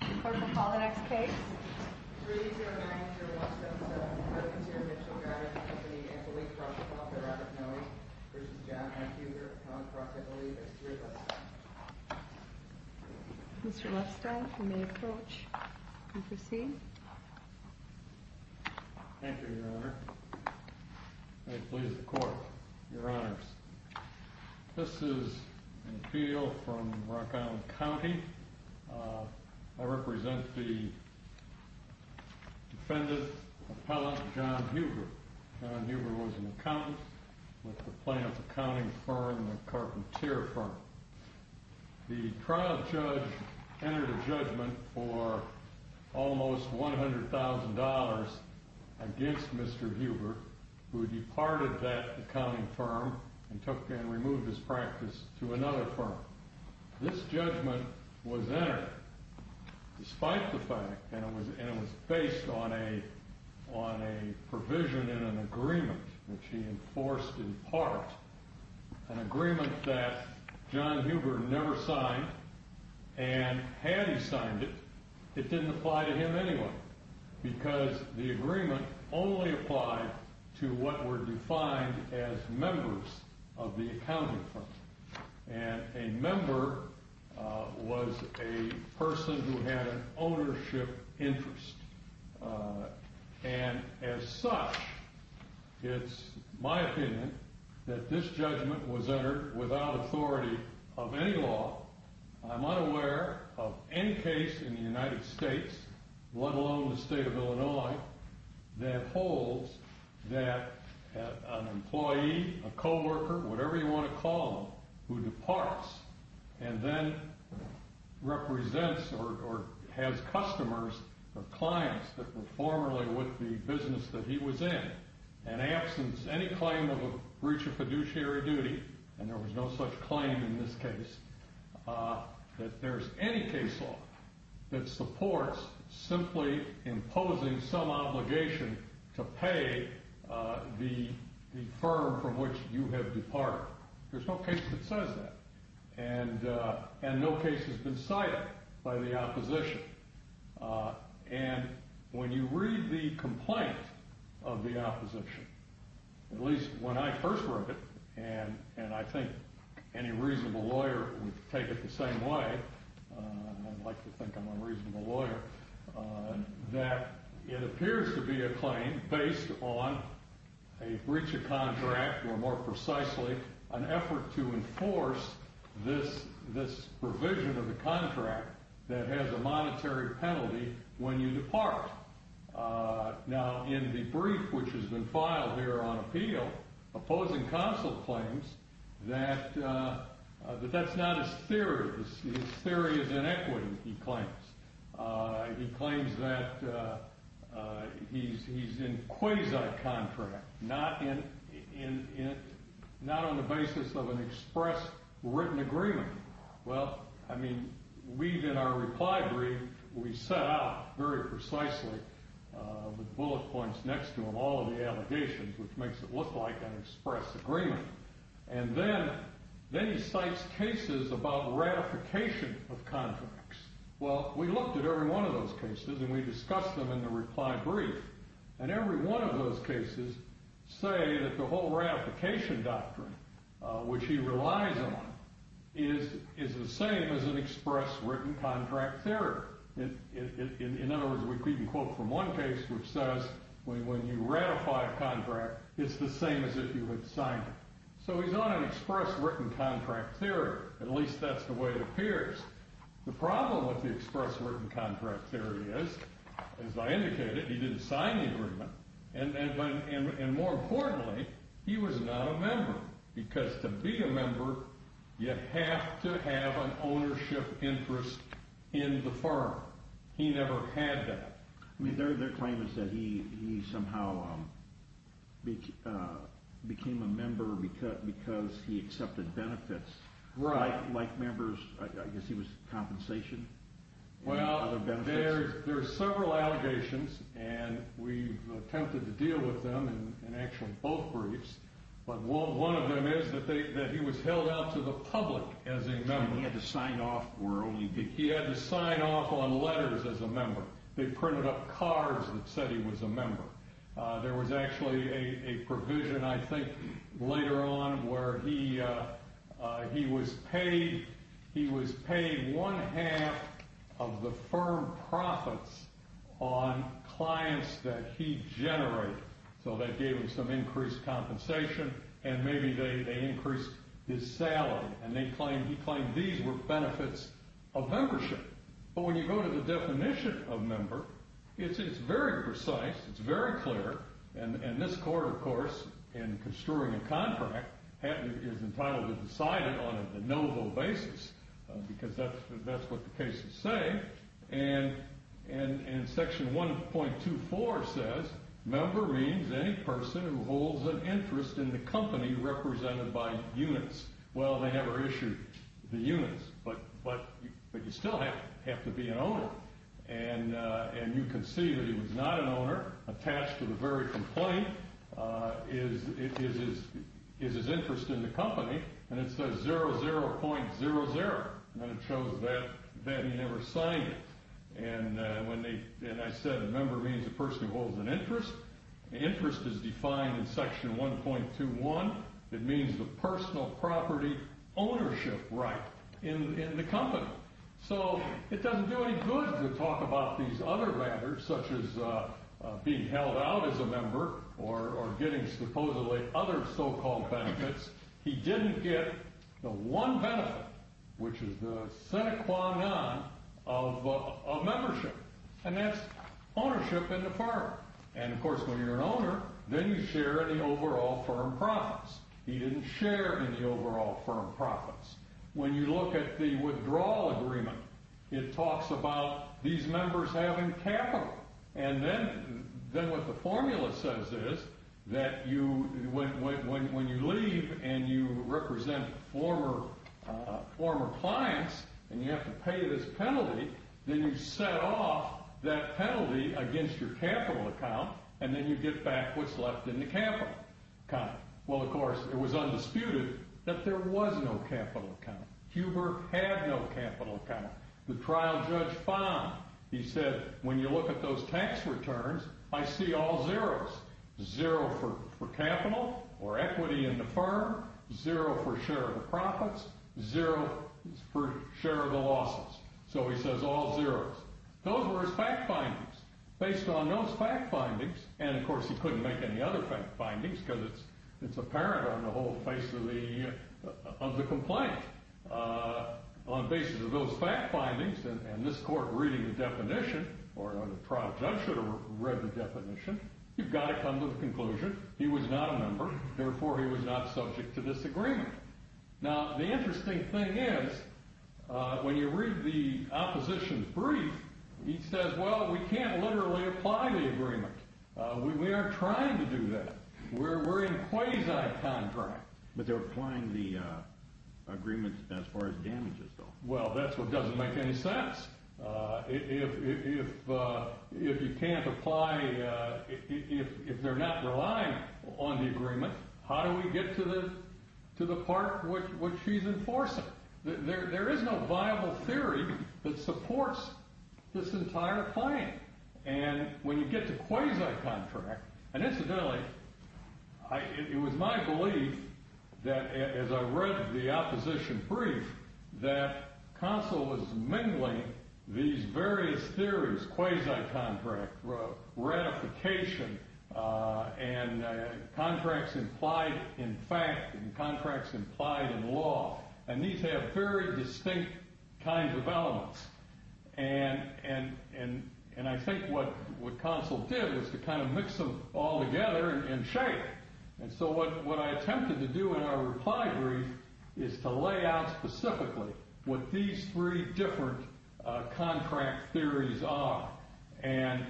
the court will call the next case. Mr. Lester, you may approach and proceed. Thank you, Your Honor. I please the court, Your Honors. This is an appeal from Rock Island County. I represent the defendant, Appellant John Huber. John Huber was an accountant with the Planoff Accounting Firm and the Carpentier Firm. The trial judge entered a judgment for almost $100,000 against Mr. Huber, who departed that accounting firm and took and removed his practice to another firm. This judgment was entered despite the fact, and it was based on a provision in an agreement which he enforced in part, an agreement that John Huber never signed, and had he signed it, it didn't apply to him anyway, because the agreement only applied to what were defined as members of the accounting firm, and a member was a person who had an ownership interest. And as such, it's my opinion that this judgment was entered without authority of any law. I'm unaware of any case in the United States, let alone the state of Illinois, that holds that an employee, a coworker, whatever you want to call them, who departs, and then represents or has customers or clients that were formerly with the business that he was in, and absence any claim of a breach of fiduciary duty, and there was no such claim in this case, that there's any case law that supports simply imposing some obligation to pay the firm from which you have departed. There's no case that says that, and no case has been cited by the opposition. And when you read the complaint of the opposition, at least when I first wrote it, and I think any reasonable lawyer would take it the same way, I'd like to think I'm a reasonable lawyer, that it appears to be a claim based on a breach of contract or more precisely, an effort to enforce this provision of the contract that has a monetary penalty when you depart. Now in the brief which has been filed here on appeal, opposing counsel claims that that's not his theory, his theory is inequity, he claims. He claims that he's in quasi-contract, not on the basis of an express written agreement. Well, I mean, we've in our reply brief, we set out very precisely the bullet points next to him, all of the allegations, which makes it look like an express agreement. And then he cites cases about ratification of contracts. Well, we looked at every one of those cases, and we discussed them in the reply brief. And every one of those cases, say that the whole ratification doctrine, which he relies on is the same as an express written contract theory. In other words, we can quote from one case, which says, when you ratify a contract, it's the same as if you had signed it. So he's on an express written contract theory, at least that's the way it appears. The problem with the express written contract theory is, as I indicated, he didn't sign the agreement. And more importantly, he was not a member. Because to be a member, you have to have an ownership interest in the firm. He never had that. I mean, their claim is that he somehow became a member because he accepted benefits. Right. Like members, I guess he was compensation. Well, there are several allegations, and we've attempted to deal with them in actually both briefs. But one of them is that he was held out to the public as a member. He had to sign off. He had to sign off on letters as a member. They printed up cards that said he was a member. There was actually a provision, I think, later on, where he was paid one half, of the firm profits on clients that he generated. So that gave him some increased compensation, and maybe they increased his salary. And he claimed these were benefits of membership. But when you go to the definition of member, it's very precise, it's very clear. And this court, of course, in construing a contract, is entitled to decide it on a de novo basis, because that's what the cases say. And in section 1.24 says, member means any person who holds an interest in the company represented by units. Well, they never issued the units, but you still have to be an owner. And you can see that he was not an owner, attached to the very complaint is his interest in the company. And it says 00.00, and it shows that he never signed it. And I said a member means a person who holds an interest. Interest is defined in section 1.21. It means the personal property ownership right in the company. So it doesn't do any good to talk about these other matters, such as being held out as a member, or getting supposedly other so-called benefits. He didn't get the one benefit, which is the sine qua non of membership. And that's ownership in the firm. And of course, when you're an owner, then you share in the overall firm profits. He didn't share in the overall firm profits. When you look at the withdrawal agreement, it talks about these members having capital. And then what the formula says is that when you leave, and you represent former clients, and you have to pay this penalty, then you set off that penalty against your capital account, and then you get back what's left in the capital account. Well, of course, it was undisputed that there was no capital account. Huber had no capital account. The trial judge found, he said, when you look at those tax returns, I see all zeros. Zero for capital, or equity in the firm. Zero for share of the profits. Zero for share of the losses. So he says all zeros. Those were his fact findings. Based on those fact findings, and of course he couldn't make any other fact findings, because it's apparent on the whole face of the complaint. On the basis of those fact findings, and this court reading the definition, or the trial judge should have read the definition, you've got to come to the conclusion, he was not a member, therefore he was not subject to this agreement. Now, the interesting thing is, when you read the opposition's brief, he says, well, we can't literally apply the agreement. We aren't trying to do that. We're in a quasi-contract. But they're applying the agreement as far as damages, though. Well, that's what doesn't make any sense. If you can't apply, if they're not relying on the agreement, how do we get to the part which he's enforcing? There is no viable theory that supports this entire claim. And when you get to quasi-contract, and incidentally, it was my belief, that as I read the opposition brief, that Consell was mingling these various theories, quasi-contract, ratification, and contracts implied in fact, and contracts implied in law. And these have very distinct kinds of elements. And I think what Consell did was to kind of mix them all together and shape. And so what I attempted to do in our reply brief is to lay out specifically what these three different contract theories are. And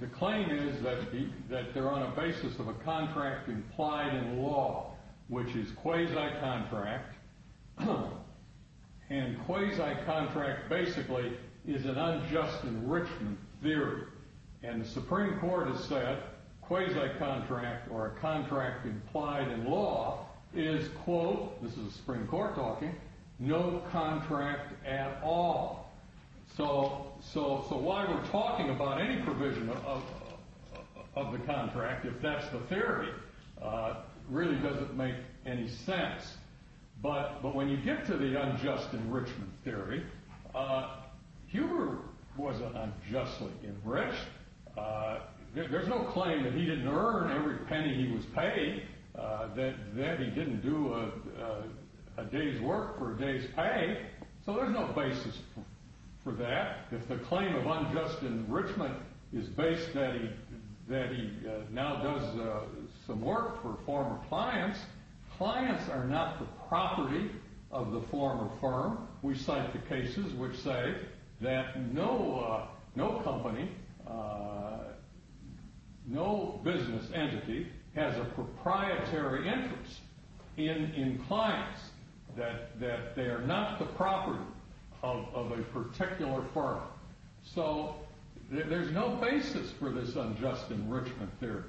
the claim is that they're on a basis of a contract implied in law, which is quasi-contract. And quasi-contract basically is an unjust enrichment theory. And the Supreme Court has said, quasi-contract or a contract implied in law is quote, this is a Supreme Court talking, no contract at all. So why we're talking about any provision of the contract, if that's the theory, really doesn't make any sense. But when you get to the unjust enrichment theory, Huber wasn't unjustly enriched. There's no claim that he didn't earn every penny he was paid. That he didn't do a day's work for a day's pay. So there's no basis for that. If the claim of unjust enrichment is based that he now does some work for former clients, clients are not the property of the former firm. We cite the cases which say that no company, no business entity has a proprietary interest in clients. That they are not the property of a particular firm. So there's no basis for this unjust enrichment theory.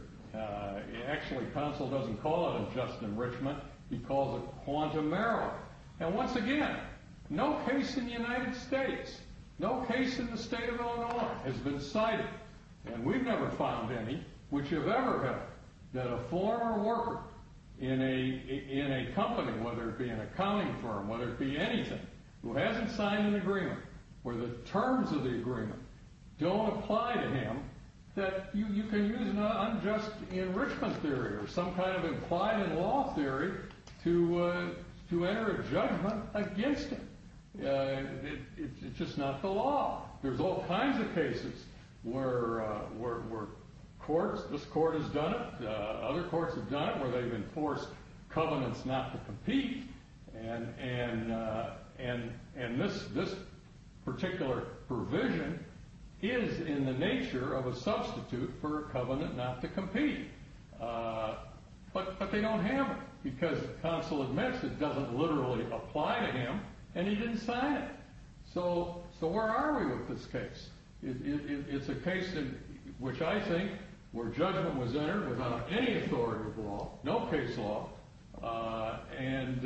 Actually, counsel doesn't call it unjust enrichment. He calls it quantum error. And once again, no case in the United States, no case in the state of Illinois has been cited. And we've never found any which have ever had that a former worker in a company, whether it be an accounting firm, whether it be anything, who hasn't signed an agreement where the terms of the agreement don't apply to him, that you can use an unjust enrichment theory or some kind of implied in law theory to enter a judgment against him. It's just not the law. There's all kinds of cases where courts, this court has done it, other courts have done it where they've enforced covenants not to compete. And this particular provision is in the nature of a substitute for a covenant not to compete. But they don't have it because counsel admits it doesn't literally apply to him and he didn't sign it. So where are we with this case? It's a case in which I think where judgment was entered without any authority of law, no case law. And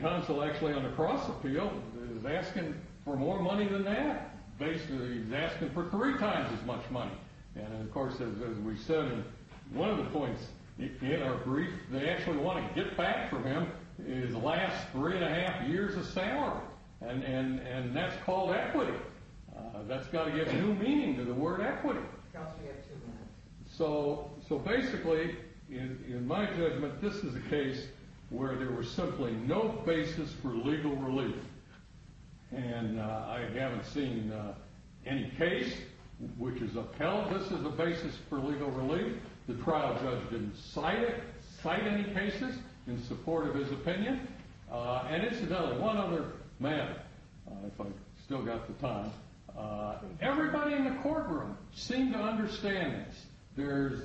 counsel actually on the cross appeal is asking for more money than that. Basically, he's asking for three times as much money. And of course, as we said in one of the points in our brief, they actually wanna get back from him his last three and a half years of salary. And that's called equity. That's gotta get new meaning to the word equity. So basically in my judgment, this is a case where there was simply no basis for legal relief. And I haven't seen any case which is upheld. This is a basis for legal relief. The trial judge didn't cite any cases in support of his opinion. And incidentally, one other matter, if I still got the time, everybody in the courtroom seemed to understand there's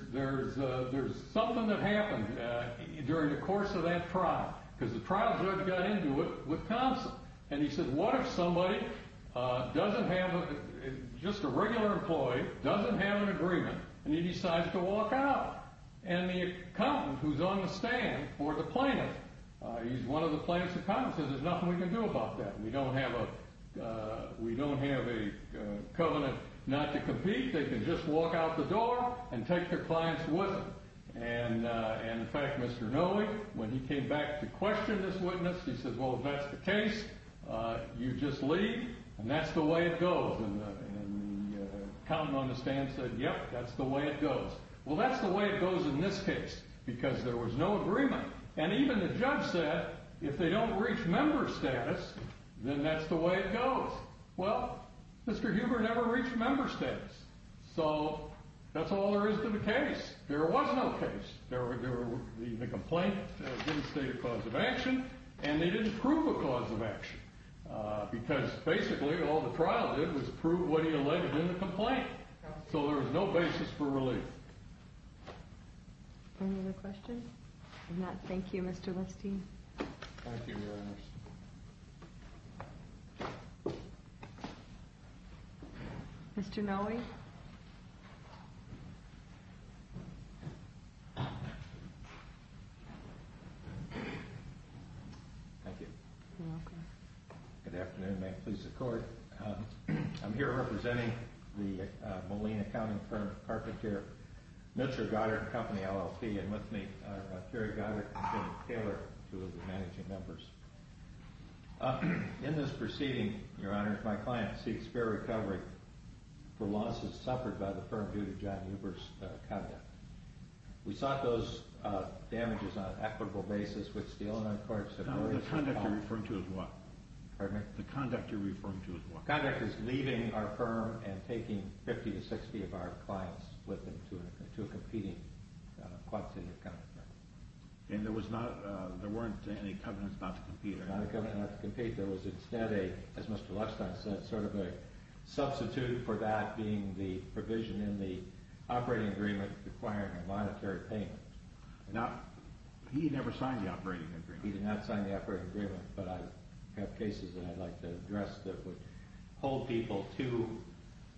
something that happened during the course of that trial because the trial judge got into it with counsel. And he said, what if somebody doesn't have, just a regular employee doesn't have an agreement and he decides to walk out. And the accountant who's on the stand for the plaintiff, he's one of the plaintiff's accountants, says there's nothing we can do about that. We don't have a covenant not to compete. They can just walk out the door and take their clients with them. And in fact, Mr. Noe, when he came back to question this witness, he said, well, if that's the case, you just leave. And that's the way it goes. And the accountant on the stand said, yep, that's the way it goes. Well, that's the way it goes in this case because there was no agreement. And even the judge said, if they don't reach member status, then that's the way it goes. Well, Mr. Huber never reached member status. So that's all there is to the case. There was no case. The complaint didn't state a cause of action and they didn't prove a cause of action because basically all the trial did was prove what he alleged in the complaint. So there was no basis for relief. Any other questions? If not, thank you, Mr. Leste. Thank you, Your Honor. Mr. Noe. Thank you. You're welcome. Good afternoon. May it please the Court. I'm here representing the Molina County firm of carpenter Mitchell Goddard Company, LLC. And with me are Terry Goddard and Jim Taylor, two of the managing members. In this proceeding, Your Honor, my client seeks fair recovery for losses suffered by the firm due to John Huber's conduct. We sought those damages on an equitable basis which the Illinois Courts have already found... Now, the conduct you're referring to is what? Pardon me? The conduct you're referring to is what? Conduct is leaving our firm and taking 50 to 60 of our clients with them to a competing quadcity of companies. And there was not... There weren't any covenants not to compete, are there? Not a covenant not to compete. There was instead a, as Mr. Leste said, sort of a substitute for that being the provision in the operating agreement requiring a monetary payment. Now, he never signed the operating agreement. He did not sign the operating agreement, but I have cases that I'd like to address that would hold people to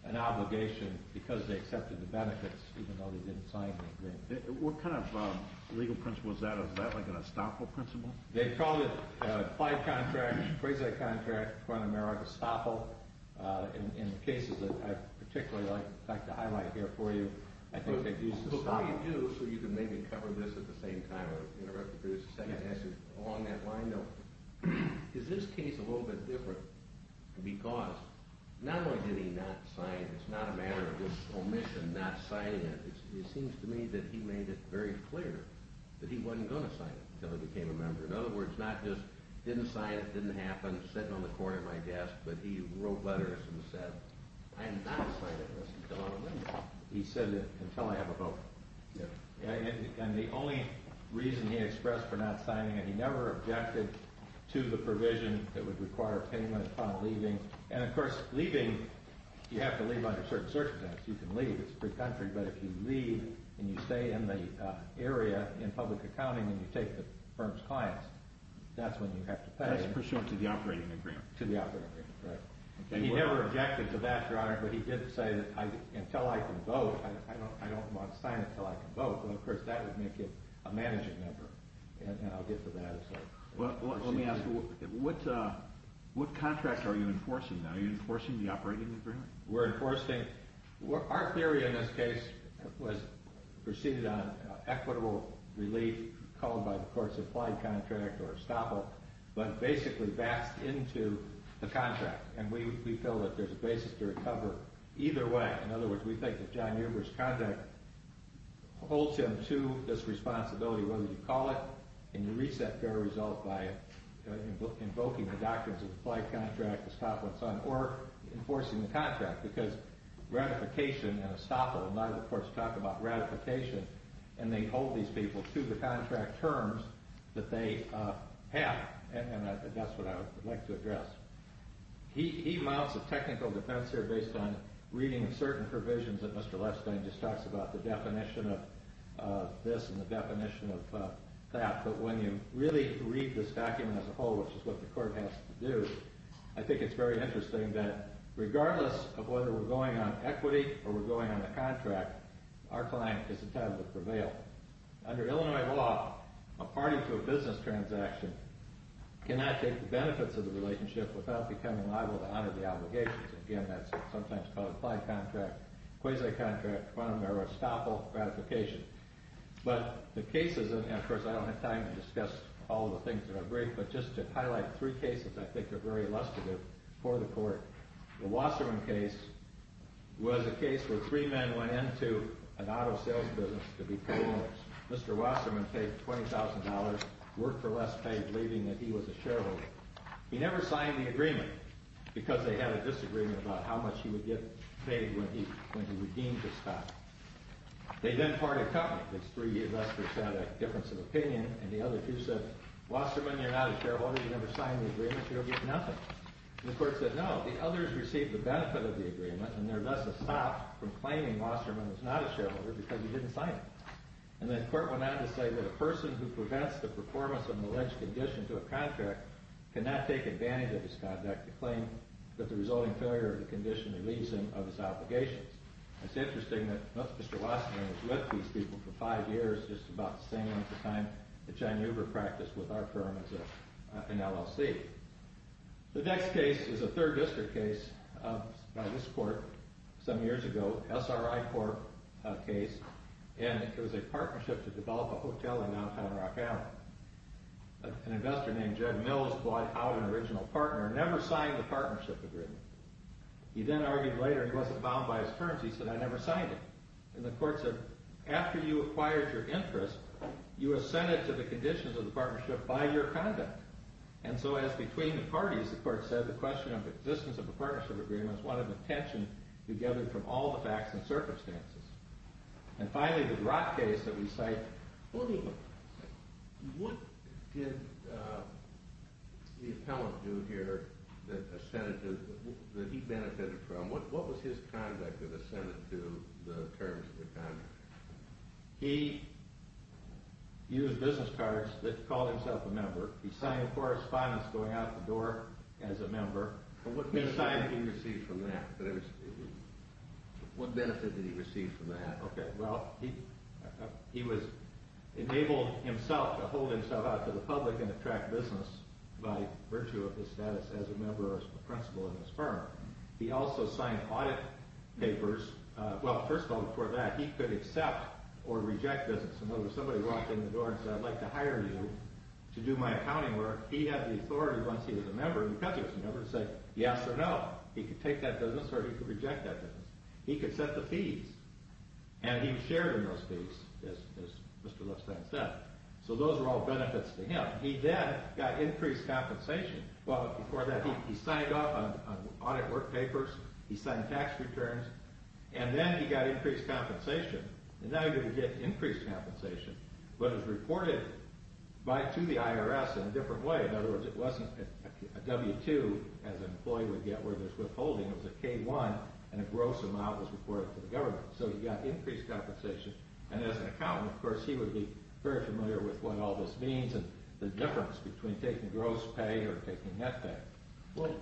an obligation because they accepted the benefits even though they didn't sign the agreement. What kind of legal principle is that? Is that like an estoppel principle? They called it a five-contract, a three-contract, a front-of-merit estoppel. In cases that I'd particularly like to highlight here for you, I think they've used estoppel. But what you do, so you can maybe cover this at the same time or interrupt to produce a second answer along that line, is this case a little bit different because not only did he not sign it, it's not a matter of just omission, not signing it. It seems to me that he made it very clear that he wasn't going to sign it until he became a member. In other words, not just didn't sign it, didn't happen, sitting on the corner of my desk, but he wrote letters and said, I'm not signing this until I'm a member. He said, until I have a vote. And the only reason he expressed for not signing it, he never objected to the provision that would require payment upon leaving. And, of course, leaving, you have to leave under certain circumstances. You can leave. It's a free country. But if you leave and you stay in the area in public accounting and you take the firm's clients, that's when you have to pay. That's pursuant to the operating agreement. To the operating agreement, right. And he never objected to that, Your Honor. But he did say that until I can vote, I don't want to sign it until I can vote. Well, of course, that would make it a managing member. And I'll get to that. Well, let me ask you, what contract are you enforcing now? Are you enforcing the operating agreement? We're enforcing... Our theory in this case was proceeded on equitable relief called by the court's implied contract or estoppel. But basically, that's into the contract. And we feel that there's a basis to recover either way. In other words, we think that John Euber's contract holds him to this responsibility, whether you call it and you reach that fair result by invoking the doctrines of the implied contract, estoppel, and so on, or enforcing the contract because ratification and estoppel, and I, of course, talk about ratification, and they hold these people to the contract terms that they have. And that's what I would like to address. He mounts a technical defense here based on reading certain provisions that Mr. Lestang just talks about, the definition of this and the definition of that. But when you really read this document as a whole, which is what the court has to do, I think it's very interesting that regardless of whether we're going on equity or we're going on the contract, our client is entitled to prevail. Under Illinois law, a party to a business transaction cannot take the benefits of the relationship without becoming liable to honor the obligations. Again, that's sometimes called implied contract, quasi-contract, quantum error, estoppel, ratification. But the cases, and, of course, I don't have time to discuss all the things that are brief, but just to highlight three cases that I think are very illustrative for the court. The Wasserman case was a case where three men went into an auto sales business to be paid loans. Mr. Wasserman paid $20,000, worked for Lestang, believing that he was a shareholder. He never signed the agreement because they had a disagreement about how much he would get paid when he redeemed his stock. They then parted companies. These three investors had a difference of opinion, and the other two said, Wasserman, you're not a shareholder. You never signed the agreement. You don't get nothing. And the court said, no. The others received the benefit of the agreement, and they're thus stopped from claiming Wasserman was not a shareholder because he didn't sign it. And the court went on to say that a person who prevents the performance of an alleged condition to a contract cannot take advantage of his conduct to claim that the resulting failure of the condition relieves him of his obligations. It's interesting that Mr. Wasserman was with these people for five years, just about the same length of time that John Hoover practiced with our firm as an LLC. The next case is a third district case by this court some years ago, an SRI court case, and it was a partnership to develop a hotel in downtown Rock Island. An investor named Jed Mills bought out an original partner and never signed the partnership agreement. He then argued later he wasn't bound by his terms. He said, I never signed it. And the court said, after you acquired your interest, you assented to the conditions of the partnership by your conduct. And so as between the parties, the court said, the question of existence of a partnership agreement is one of attention to gather from all the facts and circumstances. And finally, the Rock case that we cite, what did the appellant do here that he benefited from? What was his conduct that assented to the terms of the contract? He used business cards that called himself a member. He signed a correspondence going out the door as a member. What benefit did he receive from that? Okay, well, he was enabled himself to hold himself out to the public and attract business by virtue of his status as a member or principal of his firm. He also signed audit papers. Well, first of all, before that, he could accept or reject business. And when somebody walked in the door and said, I'd like to hire you to do my accounting work, he had the authority once he was a member in the country as a member to say yes or no. He could take that business or he could reject that business. He could set the fees. And he was shared in those fees, as Mr. Loebstein said. So those were all benefits to him. He then got increased compensation. Well, before that, he signed up on audit work papers. He signed tax returns. And then he got increased compensation. And now he would get increased compensation, but it was reported to the IRS in a different way. In other words, it wasn't a W-2 as an employee would get where there's withholding. It was a K-1 and a gross amount was reported to the government. So he got increased compensation. And as an accountant, of course, he would be very familiar with what all this means and the difference between taking gross pay or taking net pay. William?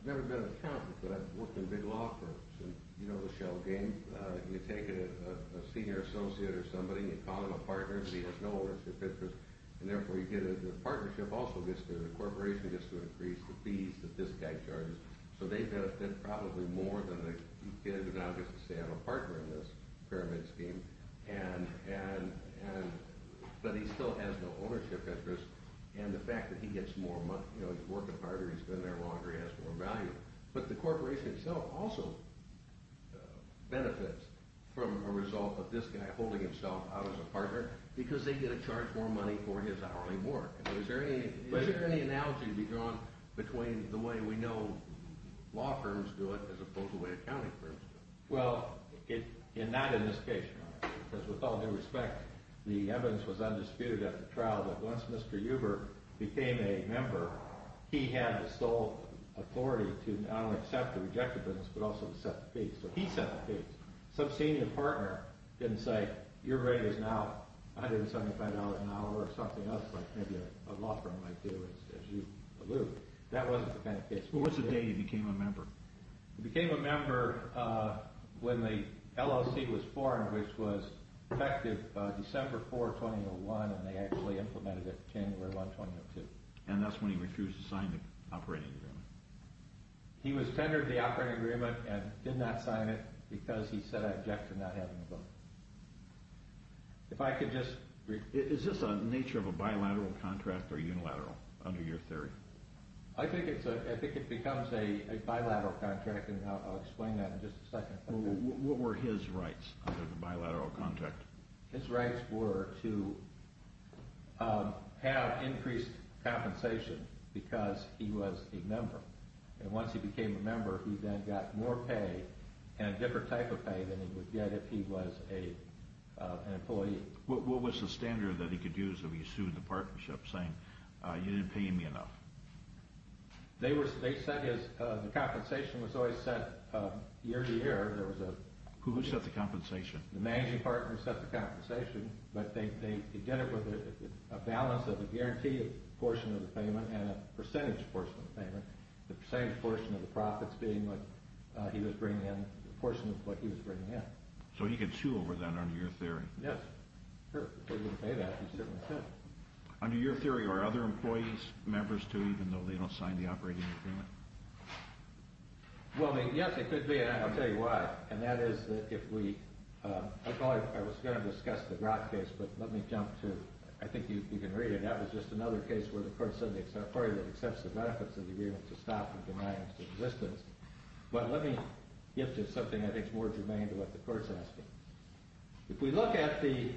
I've never been an accountant, but I've worked in big law firms. And you know the shell game. You take a senior associate or somebody, you call them a partner, and he has no ownership interest. And therefore, you get a partnership also gets to, the corporation gets to increase the fees, the discount charges. So they benefit probably more than the kid who now gets to stay on a partner in this pyramid scheme. And, and, and... But he still has no ownership interest. And the fact that he gets more money, you know, he's working harder, he's been there longer, he has more value. But the corporation itself also benefits from a result of this guy holding himself out as a partner because they get to charge more money for his hourly work. Is there any, is there any analogy to be drawn between the way we know law firms do it as opposed to the way accounting firms do it? Well, not in this case, because with all due respect, the evidence was undisputed at the trial that once Mr. Huber became a member, he had the sole authority to not only accept the rejected business, but also to set the pace. So he set the pace. Some senior partner didn't say, your rate is now $175 an hour or something else like maybe a law firm might do, as you allude. That wasn't the kind of case. Well, what's the date he became a member? He became a member when the LLC was formed, which was effective December 4, 2001, and they actually implemented it January 1, 2002. And that's when he refused to sign the operating agreement? He was tendered the operating agreement and did not sign it because he said I object to not having the book. If I could just briefly... Is this a nature of a bilateral contract or unilateral under your theory? I think it's a... I think it becomes a bilateral contract, and I'll explain that in just a second. What were his rights under the bilateral contract? His rights were to have increased compensation because he was a member. And once he became a member, he then got more pay and a different type of pay than he would get if he was an employee. What was the standard that he could use if he sued the partnership saying, you didn't pay me enough? They set his... The compensation was always set year to year. Who set the compensation? The managing partner set the compensation, but they did it with a balance of a guaranteed portion of the payment and a percentage portion of the payment. The percentage portion of the profits being what he was bringing in, the portion of what he was bringing in. So he could sue over that under your theory? Yes, sure. If he didn't pay that, he certainly could. Under your theory, are other employees, members too, even though they don't sign the operating agreement? Well, yes, it could be, and I'll tell you why. And that is that if we... I was going to discuss the Grott case, but let me jump to... I think you can read it. That was just another case where the court said the party that accepts the benefits of the agreement to stop and denies its existence. But let me get to something I think is more germane to what the court's asking. If we look at the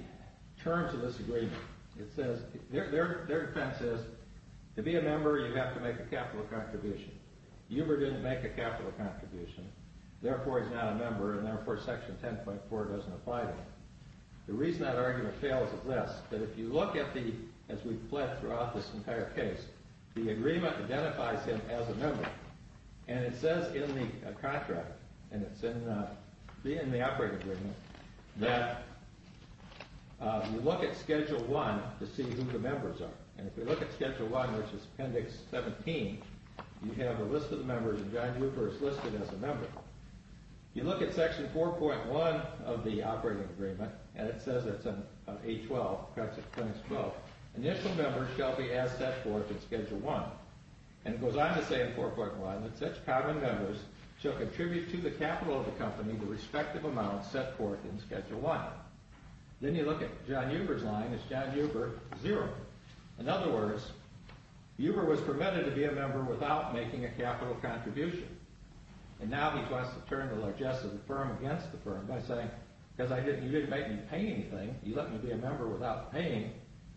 terms of this agreement, it says... Their defense is to be a member, you have to make a capital contribution. Huber didn't make a capital contribution, therefore he's not a member, and therefore Section 10.4 doesn't apply to him. The reason that argument fails is this, that if you look at the... As we've fled throughout this entire case, the agreement identifies him as a member. And it says in the contract, and it's in the operating agreement, that you look at Schedule 1 to see who the members are. And if you look at Schedule 1, which is Appendix 17, you have a list of the members, and John Huber is listed as a member. If you look at Section 4.1 of the operating agreement, and it says it's in 8.12, perhaps it claims 12, initial members shall be as set forth in Schedule 1. And it goes on to say in 4.1 that such common members shall contribute to the capital of the company the respective amount set forth in Schedule 1. Then you look at John Huber's line, it's John Huber, 0. In other words, Huber was permitted to be a member without making a capital contribution. And now he wants to turn the largesse of the firm against the firm by saying, because you didn't make me pay anything, you let me be a member without paying,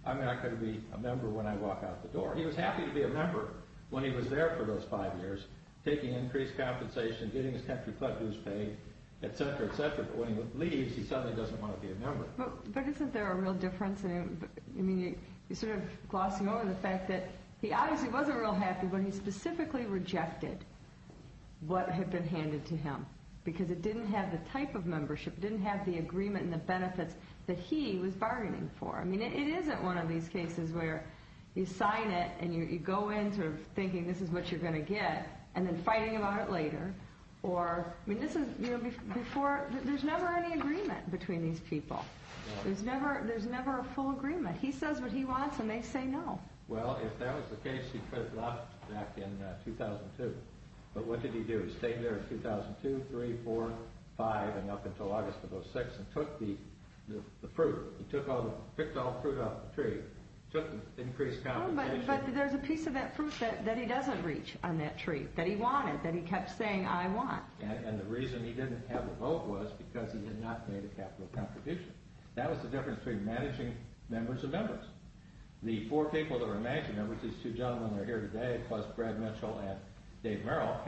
I'm not going to be a member when I walk out the door. He was happy to be a member when he was there for those five years, taking increased compensation, getting his country club dues paid, et cetera, et cetera. But when he leaves, he suddenly doesn't want to be a member. But isn't there a real difference? I mean, you're sort of glossing over the fact that he obviously wasn't real happy when he specifically rejected what had been handed to him, because it didn't have the type of membership, it didn't have the agreement and the benefits that he was bargaining for. I mean, it isn't one of these cases where you sign it and you go in sort of thinking this is what you're going to get, and then fighting about it later, or, I mean, this is, you know, before, there's never any agreement between these people. There's never, there's never a full agreement. He says what he wants and they say no. Well, if that was the case, he could have left back in 2002. But what did he do? He stayed there in 2002, three, four, five, and up until August of 06 and took the fruit. He took all the, picked all the fruit off the tree, took increased compensation. But there's a piece of that fruit that he doesn't reach on that tree, that he wanted, that he kept saying I want. And the reason he didn't have a vote was because he had not made a capital contribution. That was the difference between managing members of members. The four people that are managing members, these two gentlemen that are here today, plus Brad Mitchell and Dave Merrill,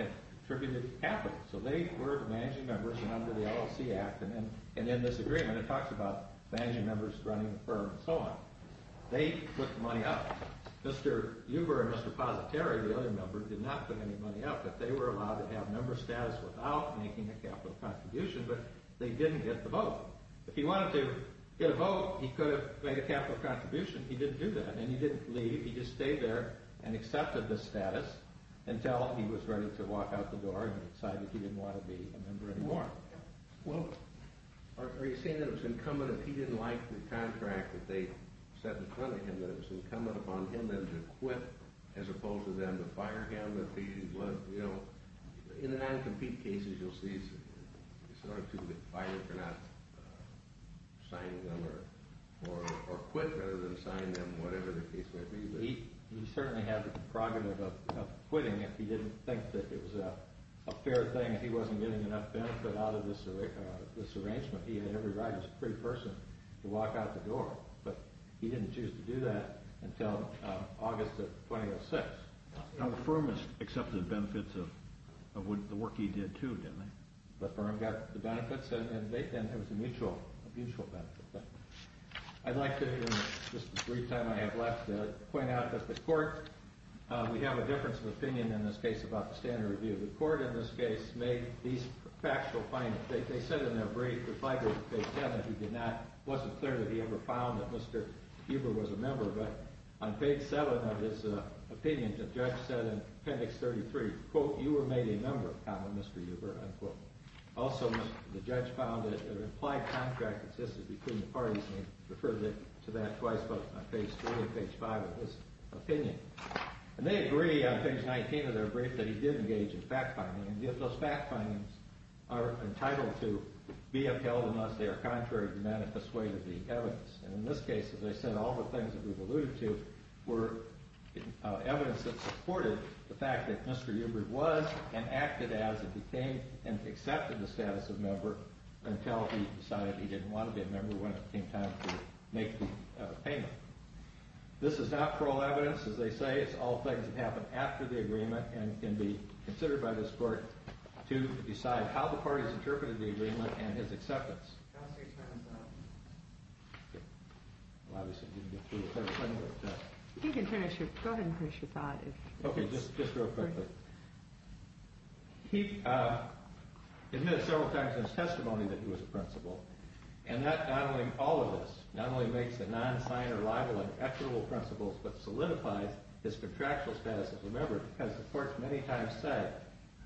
contributed capital. So they were the managing members and under the LLC Act and in this agreement it talks about managing members running the firm and so on. They put the money up. Mr. Huber and Mr. Positari, the other members, did not put any money up but they were allowed to have member status without making a capital contribution but they didn't get the vote. If he wanted to get a vote, he could have made a capital contribution. He didn't do that and he didn't leave. He just stayed there and accepted the status until he was ready to walk out the door and decided he didn't want to be a member anymore. Well, are you saying that it was incumbent if he didn't like the contract that they set in front of him that it was incumbent upon him then to quit as opposed to them to fire him if he, you know, in the non-compete cases you'll see it's hard to fire if you're not signing them or quit rather than sign them whatever the case might be. He certainly had the compromise of quitting if he didn't think that it was a fair thing if he wasn't getting enough benefit out of this arrangement. He had every right as a free person to walk out the door but he didn't choose to do that until August of 2006. Now, the firm has accepted benefits of the work he did too, didn't they? The firm got the benefits and it was a mutual benefit. I'd like to, in the brief time I have left, point out that the court we have a difference of opinion in this case about the standard review. The court in this case made these factual findings. They said in their brief, if I go to page 7 it wasn't clear that he ever found that Mr. Huber was a member but on page 7 of his opinion the judge said in appendix 33 quote, you were made a member, Mr. Huber, unquote. Also, the judge found that an implied contract existed between the parties and referred it to that twice, both on page 3 and page 5 of his opinion. And they agree on page 19 of their brief that he did engage in fact-finding and yet those fact-findings are entitled to be upheld unless they are contrary to the manifest way to the evidence. And in this case, as I said, all the things that we've alluded to were evidence that supported the fact that Mr. Huber was a member and acted as if he came and accepted the status of member until he decided he didn't want to be a member when it came time to make the payment. This is not parole evidence, as they say, it's all things that happen after the agreement considered by this court to decide how the parties interpreted the agreement and his acceptance. Go ahead and finish your thought. Okay, just real quickly. Mr. Huber was a member and he admitted several times in his testimony that he was a principal and that, not only, all of this, not only makes the non-signer liable and equitable principles, but solidifies his contractual status as a member because the court many times said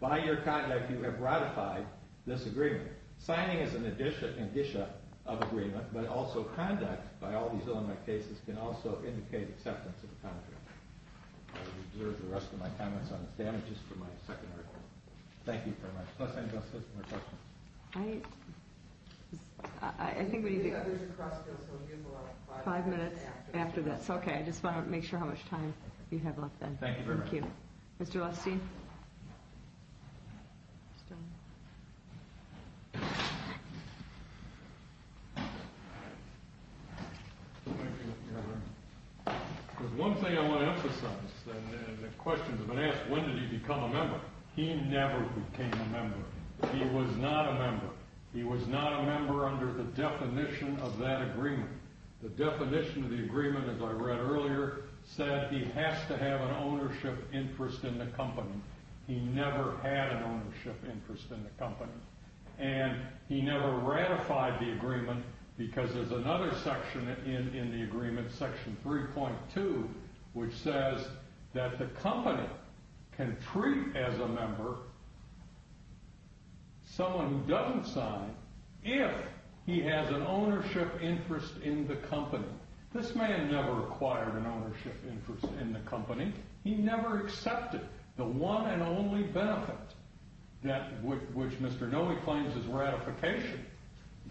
by your conduct you have ratified this agreement. Signing is an addition of agreement, but also conduct by all these cases can also indicate acceptance of the contract. I will reserve the rest of my comments on damages for my second record. Thank you very much. Los Angeles has more questions. I, I, I think we need to Five minutes after this. Okay, I just want to make sure how much time you have left then. Thank you very much. Thank you, Governor. There's one thing I want to emphasize and the question has been asked many times and it's that the the the the the question the is is that important? And the the the context we would be of nature is the enough to have a can treat as a member someone who doesn't sign if he has an ownership interest in the company. This man never acquired an ownership interest in the company. He never accepted the one and only benefit that which Mr. Noe claims is ratification.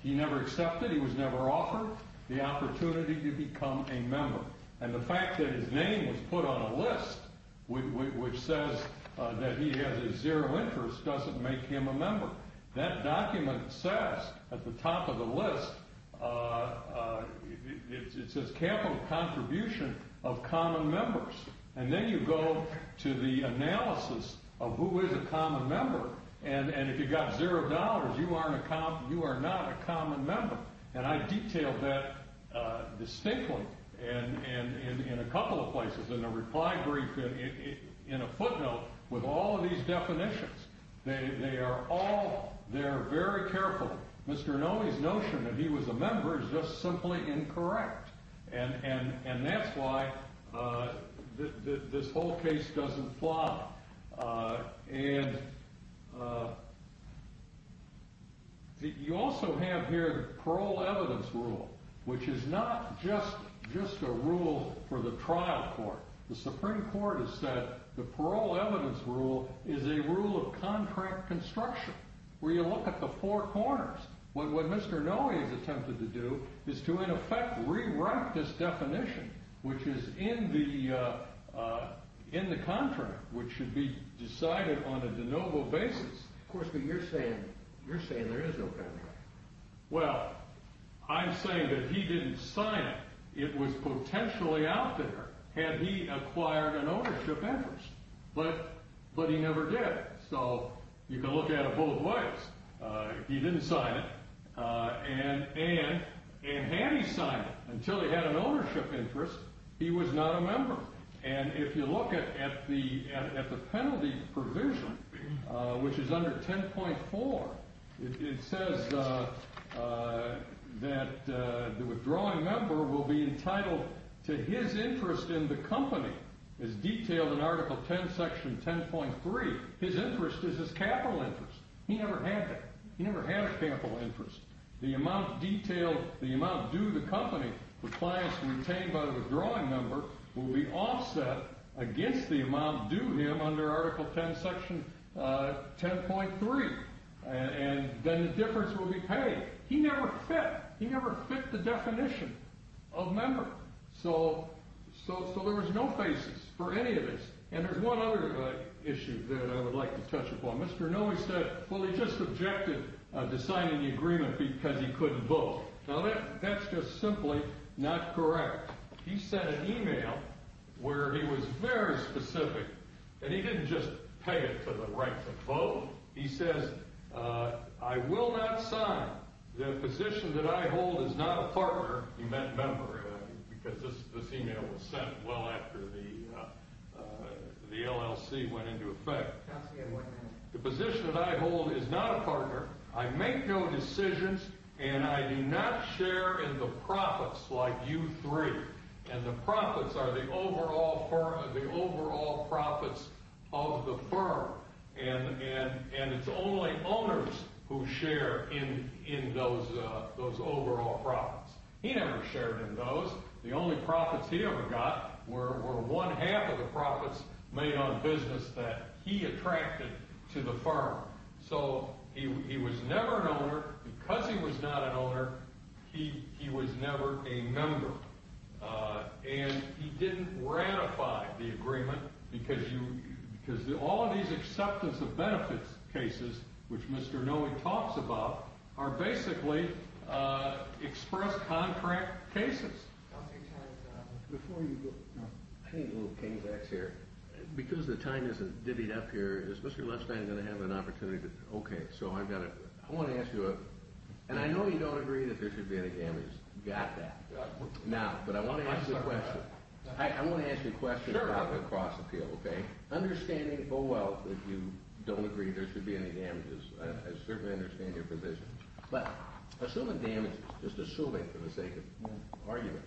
He never accepted, he was never offered the opportunity to become a member. And the fact that his name was put on a list which says that he has a zero interest doesn't make him a member. That document says at the top of the list it says capital contribution of common members. And then you go to the analysis of who is a common member. And Mr. Noe's notion that he was a member is just simply incorrect. And this whole case doesn't fly. And you also have here parole evidence rule which is not just the definition of a member. It's not just a rule for the trial court. The Supreme Court has said the parole evidence rule is a rule of contract construction where you look at the four corners. What Mr. Noe has attempted to do is to in effect rewrite this definition which is in the contract which should be decided on a de novo basis. Of course, but you're saying there is no contract. Well, I'm saying that he didn't sign it. It was potentially out there had he acquired an ownership interest. But he never did. So you can look at it both ways. He didn't sign it. He didn't that construction is a rule of contract construction where you look at the four corners. He didn't sign it. He didn't sign it. So at it both ways. So there is no basis for any of this. And there's one other issue that I would like to touch upon. Mr. Noe said he just objected to signing the agreement because he couldn't sign it. objected to signing both. Now that's just simply not correct. He sent an e-mail where he was very specific and he didn't just pay it to the right to vote. He says I will not sign the position that I hold is not a business partner. I make no decisions and I do not share in the profits like you three. And the profits are the overall profits of the firm. And it's only owners who share in those overall profits. He never shared in those. The only profits he ever got were one half of the profits made by the firm. He was never an owner because he was not an owner. He was never a member. And he didn't ratify the agreement because all of these acceptance of benefits cases which Mr. Noe talks about are basically express contract cases. I think a little case here, because the time isn't divvied up here, is Mr. Lipsman going to have an opportunity to, okay, so I've got a, I want to ask you a, and I know you don't agree that there should be any damages. Got that. Now, but I want to ask you a question. I want to ask you a question about the cross appeal, okay? Understanding, oh well, if you don't agree there should be any damages, I certainly understand your position, but assuming damages, just assuming for the sake of argument,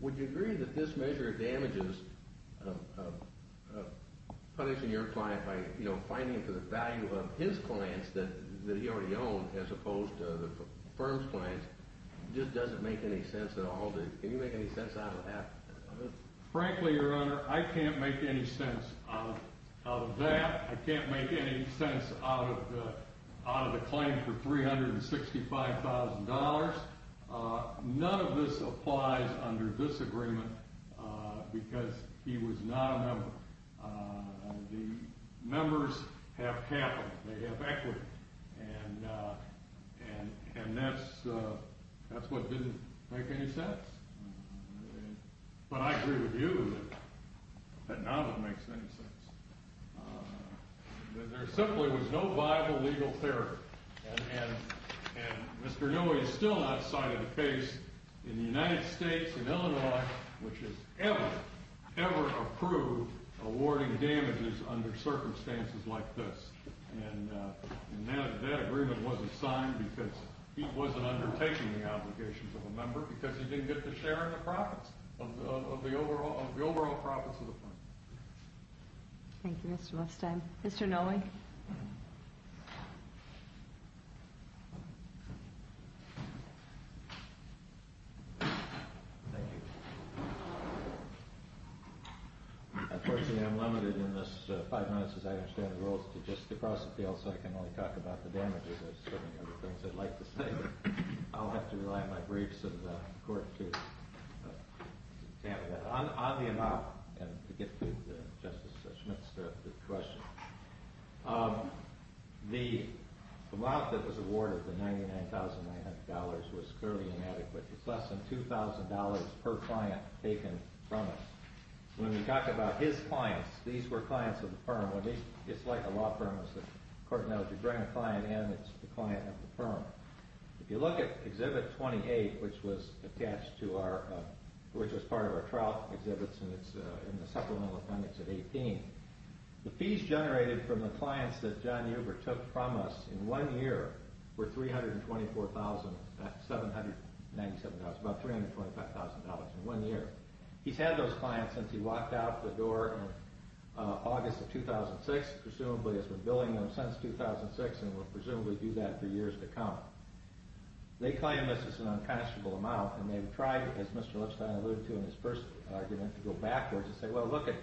would you agree that this measure of damages of punishing your client by, you know, finding for the value of his clients that he already owned as opposed to the firm's clients, just doesn't make any sense at all? Can you make any sense out of that? Frankly, your honor, I can't make any sense out of that. I can't make any sense out of the claim for $365,000. None of this applies under this agreement because he was not a member. The members have capital. They have equity. And that's what didn't make any sense. But I agree with you that none of it makes any sense. There simply was no viable legal therapy. And Mr. Newey still not cited the case in the United States and Illinois, which has ever, ever approved awarding damages under circumstances like this. And that agreement wasn't signed because he wasn't undertaking the obligations of a member because he didn't get the share of the profits, of the overall profits of the firm. Thank you, Mr. Newey. Thank you. Unfortunately, I'm limited in this five minutes, as I understand the rules, to just to cross the field so I can only talk about the damages. I'll have to rely on my briefs in the court to tackle that. On the amount, and to get to Justice Schmidt's question, the amount that was awarded, the $99,900, was fairly inadequate. It's less than $2,000 per client taken from us. When we talk about his clients, these were clients of the firm. It's like a law firm. The court knows your grand client and it's the client of the firm. If you look at Exhibit 28, which was part of our trial exhibits in the supplemental appendix at 18, the fees generated from the clients that John Uber took from us in one year were $325,000. He's had those clients since he walked out the door in August of 2006, presumably has been billing them since 2006 and will presumably do that for years to come. They claim this is an unconscionable amount and they've tried, as Mr. Lipstein alluded to in his first argument, to go backwards and say, well, look at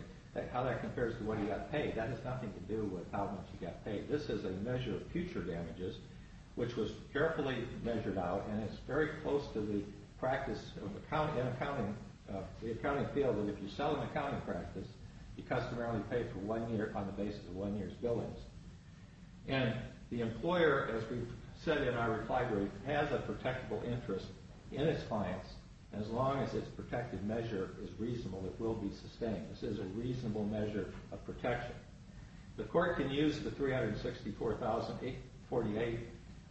how that compares to what he got paid. That has nothing to do with how much he got paid. This is a measure of future damages which was carefully measured out and it's very close to the practice in accounting field that if you sell an accounting practice, you customarily pay for one year on the basis of one year's billings. And the bill will be sustained. This is a reasonable measure of protection. The court can use the 364,848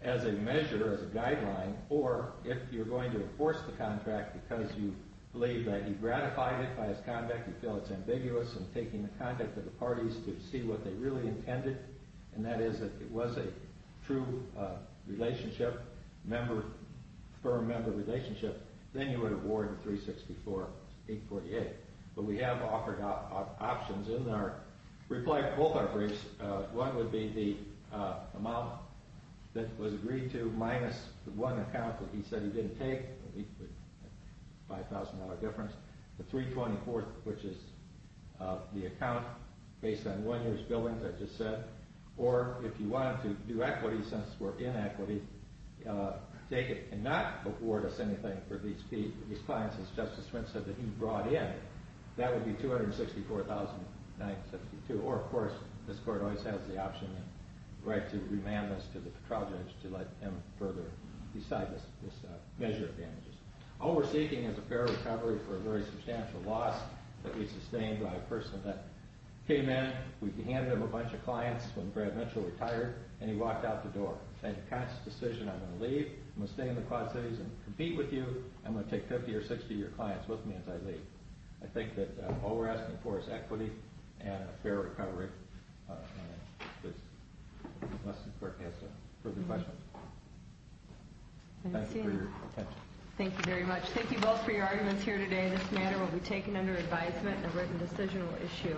as a measure, as a guideline, or if you're going to enforce the contract because you believe that you've gratified it by its conduct, you feel it's ambiguous in taking the conduct of the parties to see what they really intended and that is that it was a true relationship, firm member of the relationship, then you would award the 364,848. But we have offered options in our reply to both our briefs. One would be the amount that was agreed to minus the one account that he said he didn't take, $5,000 difference, the 324th which is the account based on one year's billings I just said, or if you did not award us anything for these clients as Justice Smith said that he brought in, that would be $264,962 or of course this court always has the option to remand this to the trial judge to let him further decide this measure of damages. All we're seeking is a fair recovery for a very substantial loss that we sustained by a person that came in, we handed him a bunch of clients when Brad Mitchell retired, and he walked out the door and made the conscious decision I'm going to leave, I'm going to stay in the Quad Cities and compete with you, I'm going to take 50 or 60 of your clients with me as I leave. I think that all we're asking for is equity and a fair recovery. Unless this court has further questions. Thank you for your attention. Thank you very much. Thank you both for your arguments here today. This matter will be taken under advisement and a written decisional issue.